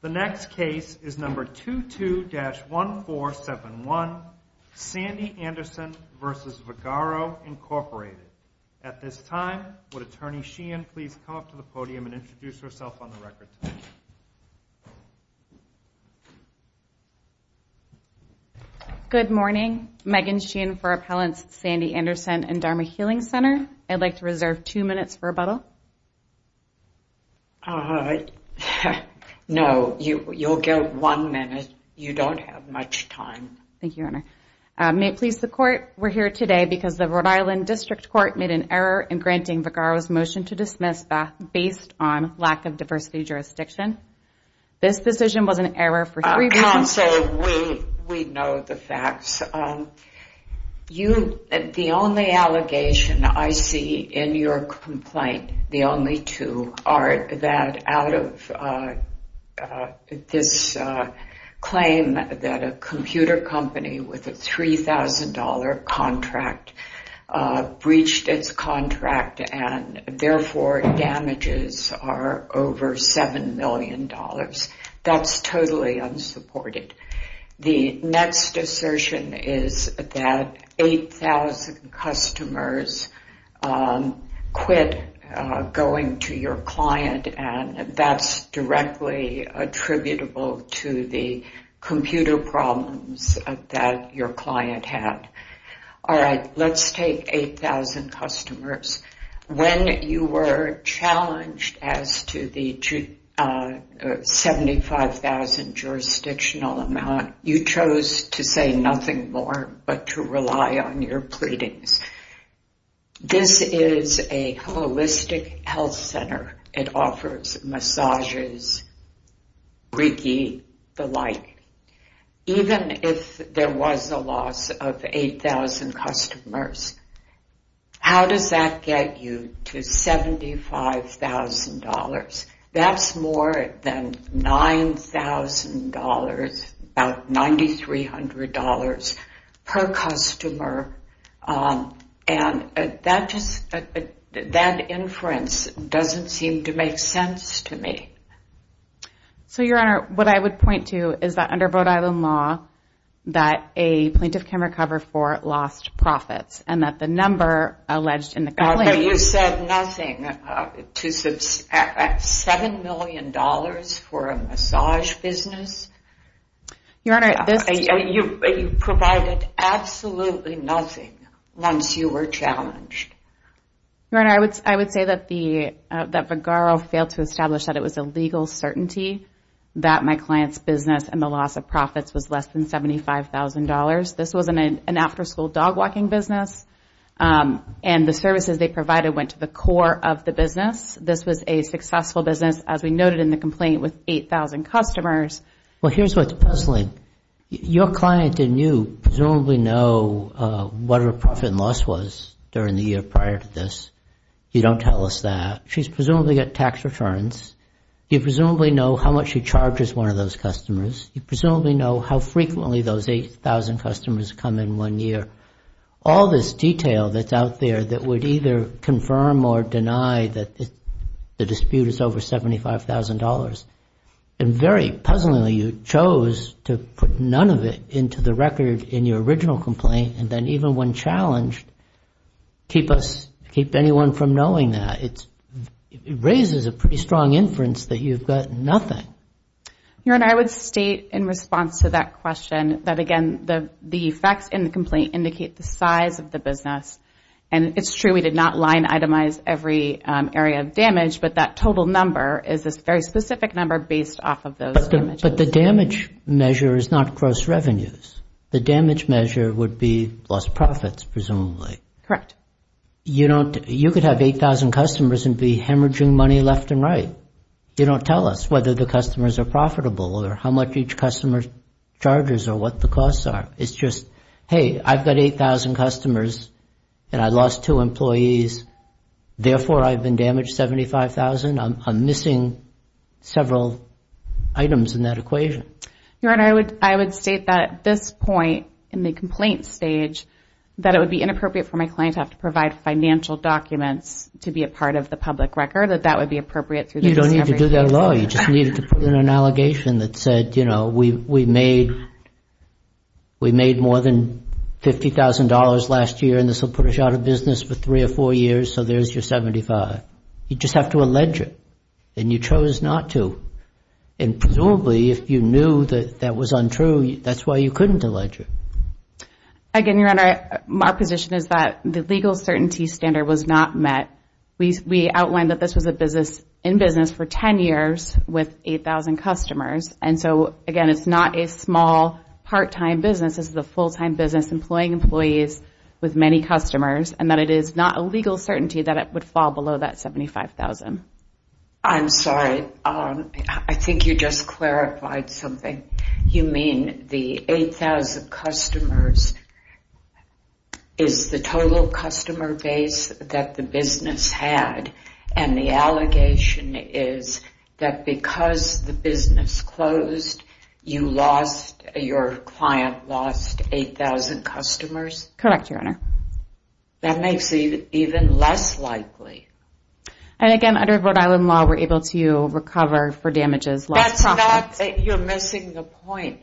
The next case is number 22-1471, Sandy Anderson v. Vagaro, Incorporated. At this time, would Attorney Sheehan please come up to the podium and introduce herself on the record. Good morning. Megan Sheehan for Appellants Sandy Anderson and Dharma Healing Center. I'd like to reserve two minutes for rebuttal. No, you'll get one minute. You don't have much time. Thank you, Your Honor. May it please the Court, we're here today because the Rhode Island District Court made an error in granting Vagaro's motion to dismiss based on lack of diversity jurisdiction. Counsel, we know the facts. The only allegation I see in your complaint, the only two, are that out of this claim that a computer company with a $3,000 contract breached its contract and therefore damages are over $7 million. That's totally unsupported. The next assertion is that 8,000 customers quit going to your client, and that's directly attributable to the computer problems that your client had. All right, let's take 8,000 customers. When you were challenged as to the 75,000 jurisdictional amount, you chose to say nothing more but to rely on your pleadings. This is a holistic health center. It offers massages, reiki, the like. Even if there was a loss of 8,000 customers, how does that get you to $75,000? That's more than $9,000, about $9,300 per customer. And that inference doesn't seem to make sense to me. So Your Honor, what I would point to is that under Rhode Island law, that a plaintiff can recover for lost profits, and that the number alleged in the complaint. You said nothing to $7 million for a massage business? Your Honor, this is a You provided absolutely nothing once you were challenged. Your Honor, I would say that Vagarro failed to establish that it was a legal certainty that my client's business and the loss of profits was less than $75,000. This was an after school dog walking business. And the services they provided went to the core of the business. This was a successful business, as we noted in the complaint, with 8,000 customers. Well, here's what's puzzling. Your client and you presumably know what her profit and loss was during the year prior to this. You don't tell us that. She's presumably got tax returns. You presumably know how much she charges one of those customers. You presumably know how frequently those 8,000 customers come in one year. All this detail that's out there that would either confirm or deny that the dispute is over $75,000. And very puzzlingly, you chose to put none of it into the record in your original complaint. And then even when challenged, keep anyone from knowing that. It raises a pretty strong inference that you've got nothing. Your Honor, I would state in response to that question that, again, the effects in the complaint indicate the size of the business. And it's true we did not line itemize every area of damage. But that total number is this very specific number based off of those damages. But the damage measure is not gross revenues. The damage measure would be lost profits, presumably. Correct. You could have 8,000 customers and be hemorrhaging money left and right. You don't tell us whether the customers are profitable or how much each customer charges or what the costs are. It's just, hey, I've got 8,000 customers and I lost two employees. Therefore, I've been damaged $75,000. I'm missing several items in that equation. Your Honor, I would state that at this point in the complaint stage that it would be inappropriate for my client to have to provide financial documents to be a part of the public record. You don't need to do that at all. You just needed to put in an allegation that said we made more than $50,000 last year and this will put us out of business for three or four years, so there's your $75,000. You just have to allege it. And you chose not to. And presumably, if you knew that that was untrue, that's why you couldn't allege it. Again, Your Honor, my position is that the legal certainty standard was not met. We outlined that this was a business in business for 10 years with 8,000 customers. And so again, it's not a small part-time business. This is a full-time business employing employees with many customers, and that it is not a legal certainty that it would fall below that $75,000. I'm sorry. I think you just clarified something. You mean the 8,000 customers is the total customer base that the business had, and the allegation is that because the business closed, your client lost 8,000 customers? Correct, Your Honor. That makes it even less likely. And again, under Rhode Island law, we're able to recover for damages, loss of profits. You're missing the point.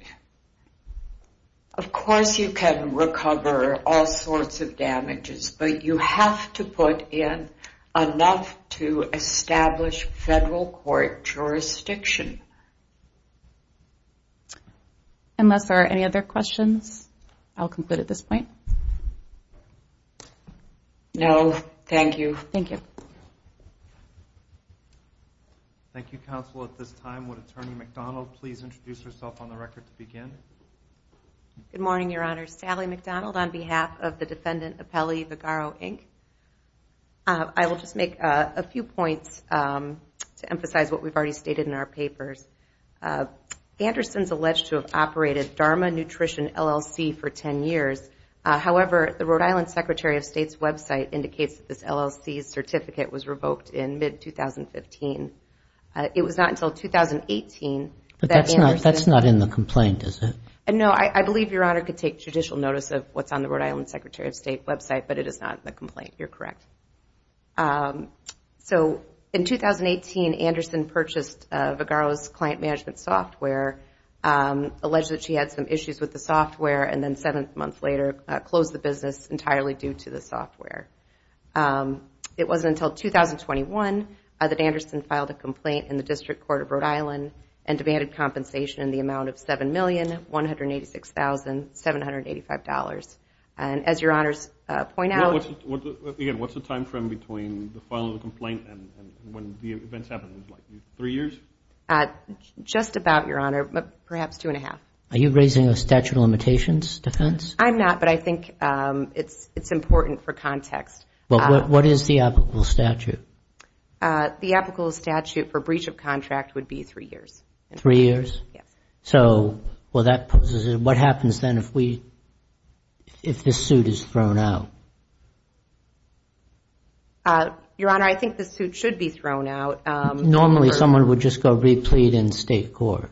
Of course, you can recover all sorts of damages, but you have to put in enough to establish federal court jurisdiction. Unless there are any other questions, I'll conclude at this point. No, thank you. Thank you. Thank you, Counsel. At this time, would Attorney McDonald please introduce herself on the record to begin? Good morning, Your Honor. Sally McDonald on behalf of the defendant Apelli Vigaro, Inc. I will just make a few points to emphasize what we've already stated in our papers. Anderson's alleged to have operated Dharma Nutrition LLC for 10 years. However, the Rhode Island Secretary of State's website indicates that this LLC's certificate was revoked in mid-2015. It was not until 2018 that Anderson- That's not in the complaint, is it? No, I believe Your Honor could take judicial notice of what's on the Rhode Island Secretary of State, website, but it is not the complaint. You're correct. So in 2018, Anderson purchased Vigaro's client management software, alleged that she had some issues with the software, and then seven months later, closed the business entirely due to the software. It wasn't until 2021 that Anderson filed a complaint in the District Court of Rhode Island and demanded compensation in the amount of $7,186,785. And as Your Honor's point out- Again, what's the time frame between the filing of the complaint and when the events happened? Three years? Just about, Your Honor, but perhaps two and a half. Are you raising a statute of limitations defense? I'm not, but I think it's important for context. Well, what is the applicable statute? The applicable statute for breach of contract would be three years. Three years? Yes. So what happens then if this suit is thrown out? Your Honor, I think the suit should be thrown out. Normally, someone would just go replete in state court.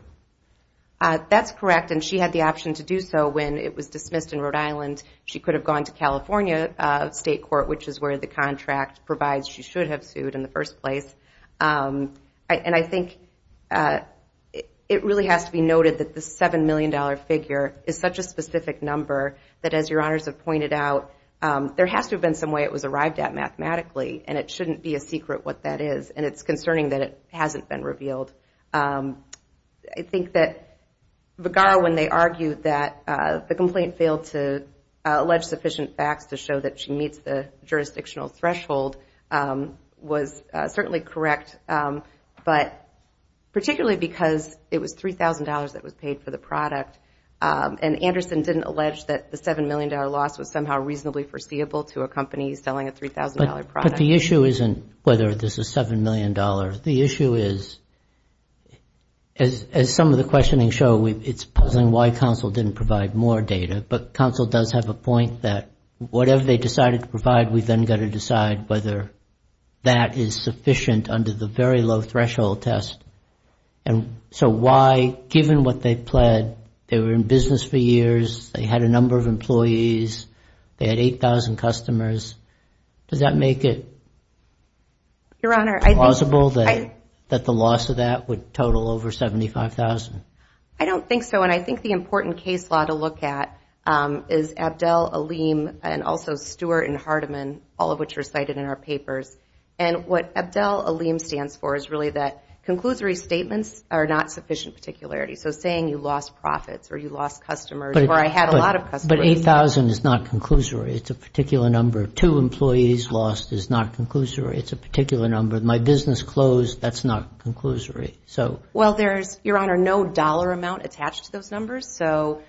That's correct, and she had the option to do so when it was dismissed in Rhode Island. She could have gone to California state court, which is where the contract provides she should have sued in the first place. And I think it really has to be noted that the $7 million figure is such a specific number that, as Your Honors have pointed out, there has to have been some way it was arrived at mathematically, and it shouldn't be a secret what that is. And it's concerning that it hasn't been revealed. I think that Vigar, when they argued that the complaint failed to allege sufficient facts to show that she meets the jurisdictional threshold, was certainly correct, but particularly because it was $3,000 that was paid for the product. And Anderson didn't allege that the $7 million loss was somehow reasonably foreseeable to a company selling a $3,000 product. But the issue isn't whether this is $7 million. The issue is, as some of the questioning show, it's puzzling why counsel didn't provide more data. But counsel does have a point that whatever they decided to provide, we've then got to decide whether that is sufficient under the very low-threshold test. And so why, given what they pled, they were in business for years, they had a number of employees, they had 8,000 customers, does that make it plausible that the loss of that would total over $75,000? I don't think so. And I think the important case law to look at is Abdel, Aleem, and also Stewart and Hardiman, all of which are cited in our papers. And what Abdel, Aleem stands for is really that conclusory statements are not sufficient particularities. So saying you lost profits, or you lost customers, or I had a lot of customers. But 8,000 is not conclusory. It's a particular number. Two employees lost is not conclusory. It's a particular number. My business closed, that's not conclusory. Well, there's, Your Honor, no dollar amount attached to those numbers. So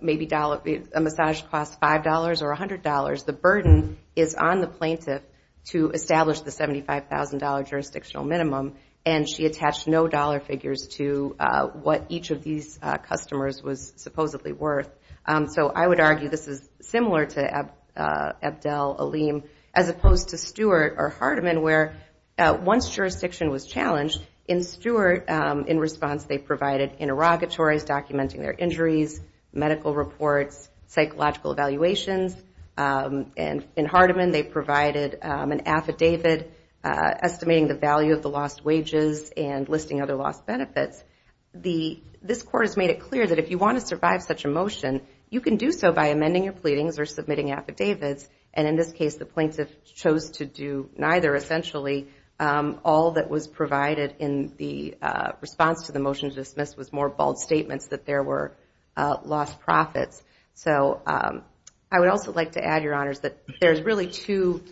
maybe a massage costs $5 or $100. The burden is on the plaintiff to establish the $75,000 jurisdictional minimum. And she attached no dollar figures to what each of these customers was supposedly worth. So I would argue this is similar to Abdel, Aleem, as opposed to Stewart or Hardiman, where once jurisdiction was challenged, in Stewart, in response, they provided interrogatories documenting their injuries, medical reports, psychological evaluations. And in Hardiman, they provided an affidavit estimating the value of the lost wages and listing other lost benefits. This court has made it clear that if you want to survive such a motion, you can do so by amending your pleadings or submitting affidavits. And in this case, the plaintiff chose to do neither. Essentially, all that was provided in the response to the motion to dismiss was more bold statements that there were lost profits. So I would also like to add, Your Honors, that there's really two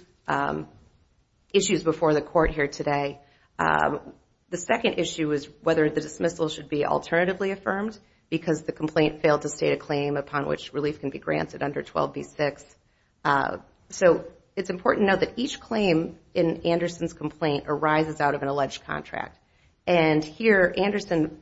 issues before the court here today. The second issue is whether the dismissal should be alternatively affirmed, because the complaint failed to state a claim upon which relief can be granted under 12b-6. So it's important to note that each claim in Anderson's complaint arises out of an alleged contract. And here, Anderson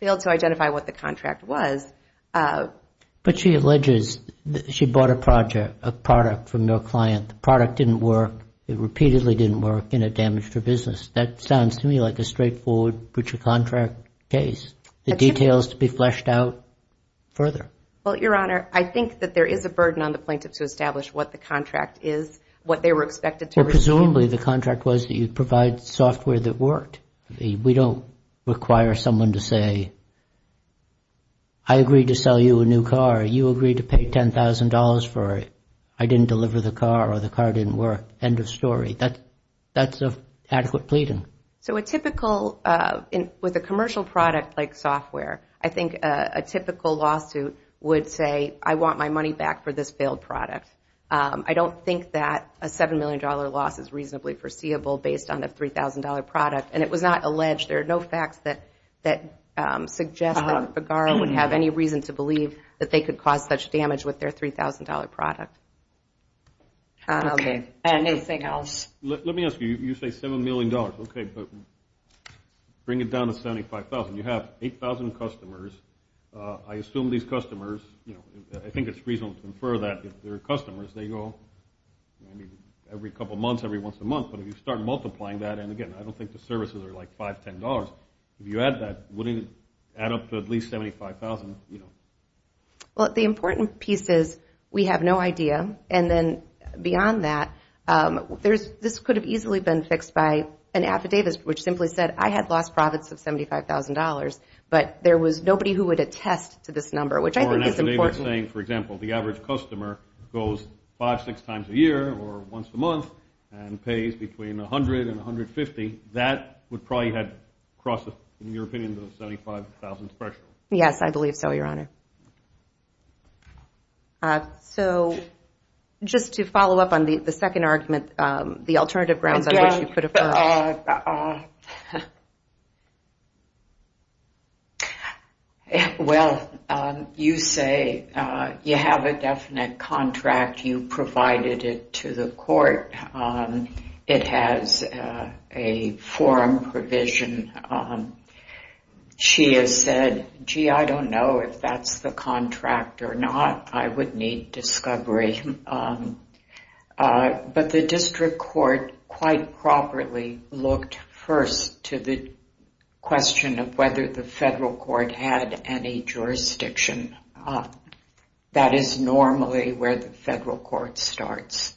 failed to identify what the contract was. But she alleges that she bought a product from your client. The product didn't work. It repeatedly didn't work, and it damaged her business. That sounds to me like a straightforward breach of contract case. The details to be fleshed out further. Well, Your Honor, I think that there is a burden on the plaintiff to establish what the contract is, what they were expected to receive. Presumably, the contract was that you provide software that worked. We don't require someone to say, I agree to sell you a new car. You agree to pay $10,000 for it. I didn't deliver the car, or the car didn't work. End of story. That's adequate pleading. So a typical, with a commercial product like software, I think a typical lawsuit would say, I want my money back for this failed product. I don't think that a $7 million loss is reasonably foreseeable based on a $3,000 product. And it was not alleged. There are no facts that suggest that Figueroa would have any reason to believe that they could cause such damage with their $3,000 product. Anything else? Let me ask you. You say $7 million. OK, but bring it down to $75,000. You have 8,000 customers. I assume these customers, I think it's reasonable to infer that if they're customers, they go every couple months, every once a month. But if you start multiplying that, and again, I don't think the services are like $5, $10. If you add that, wouldn't it add up to at least $75,000? Well, the important piece is, we have no idea. And then beyond that, this could have easily been fixed by an affidavit, which simply said, I had lost profits of $75,000. But there was nobody who would attest to this number, which I think is important. Or an affidavit saying, for example, the average customer goes five, six times a year, or once a month, and pays between $100,000 and $150,000, that would probably have crossed, in your opinion, the $75,000 threshold. Yes, I believe so, Your Honor. So just to follow up on the second argument, the alternative grounds on which you could have put it. Well, you say you have a definite contract. You provided it to the court. It has a forum provision. She has said, gee, I don't know if that's the contract or not. I would need discovery. But the district court, quite properly, looked first to the question of whether the federal court had any jurisdiction. That is normally where the federal court starts.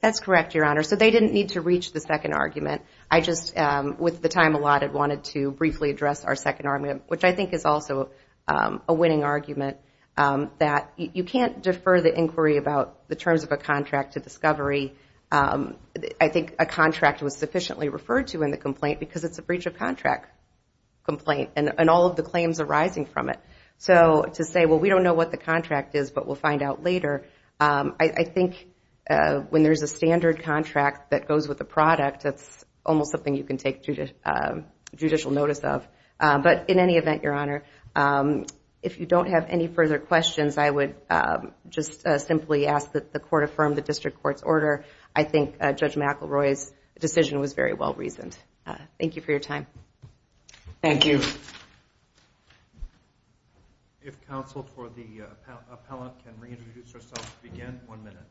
That's correct, Your Honor. So they didn't need to reach the second argument. I just, with the time allotted, wanted to briefly address our second argument, which I think is also a winning argument, that you can't defer the inquiry about the terms of a contract to discovery. I think a contract was sufficiently referred to in the complaint, because it's a breach of contract complaint, and all of the claims arising from it. So to say, well, we don't know what the contract is, but we'll find out later. I think when there's a standard contract that goes with the product, that's almost something you can take judicial notice of. But in any event, Your Honor, if you don't have any further questions, I would just simply ask that the court affirm the district court's order. I think Judge McElroy's decision was very well reasoned. Thank you for your time. Thank you. If counsel for the appellant can reintroduce herself to begin, one minute.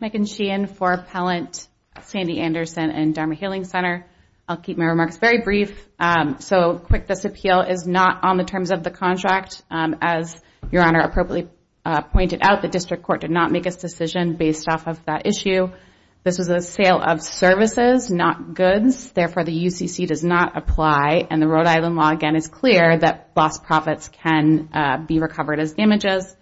Megan Sheehan for Appellant Sandy Anderson and Dharma Healing Center. I'll keep my remarks very brief. So quick, this appeal is not on the terms of the contract. As Your Honor appropriately pointed out, the district court did not make a decision based off of that issue. This was a sale of services, not goods. Therefore, the UCC does not apply. And the Rhode Island law, again, is clear that lost profits can be recovered as damages.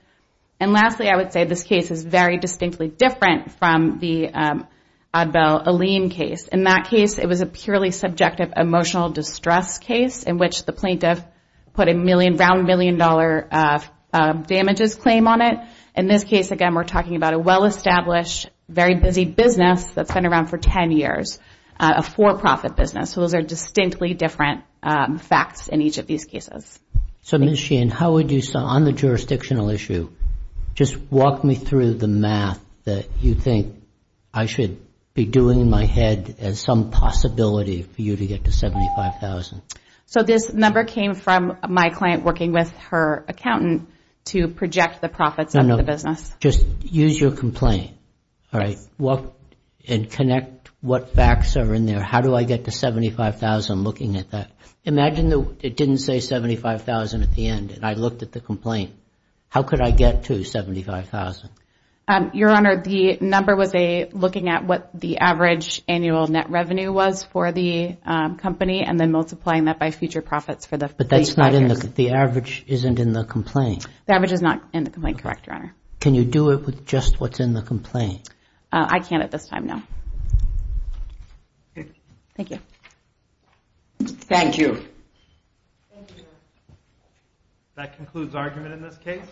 And lastly, I would say this case is very distinctly different from the Oddbell Allene case. In that case, it was a purely subjective emotional distress case in which the plaintiff put a million, round million dollar damages claim on it. In this case, again, we're talking about a well-established, very busy business that's been around for 10 years, a for-profit business. So those are distinctly different facts in each of these cases. So Ms. Sheehan, on the jurisdictional issue, just walk me through the math that you think I should be doing in my head as some possibility for you to get to $75,000. So this number came from my client working with her accountant to project the profits of the business. Just use your complaint, and connect what facts are in there. How do I get to $75,000 looking at that? Imagine it didn't say $75,000 at the end, and I looked at the complaint. How could I get to $75,000? Your Honor, the number was looking at what the average annual net revenue was for the company, and then multiplying that by future profits for the plaintiff. But that's not in the, the average isn't in the complaint. The average is not in the complaint, correct, Your Honor. Can you do it with just what's in the complaint? I can't at this time, no. Thank you. Thank you. Thank you, Your Honor. That concludes argument in this case.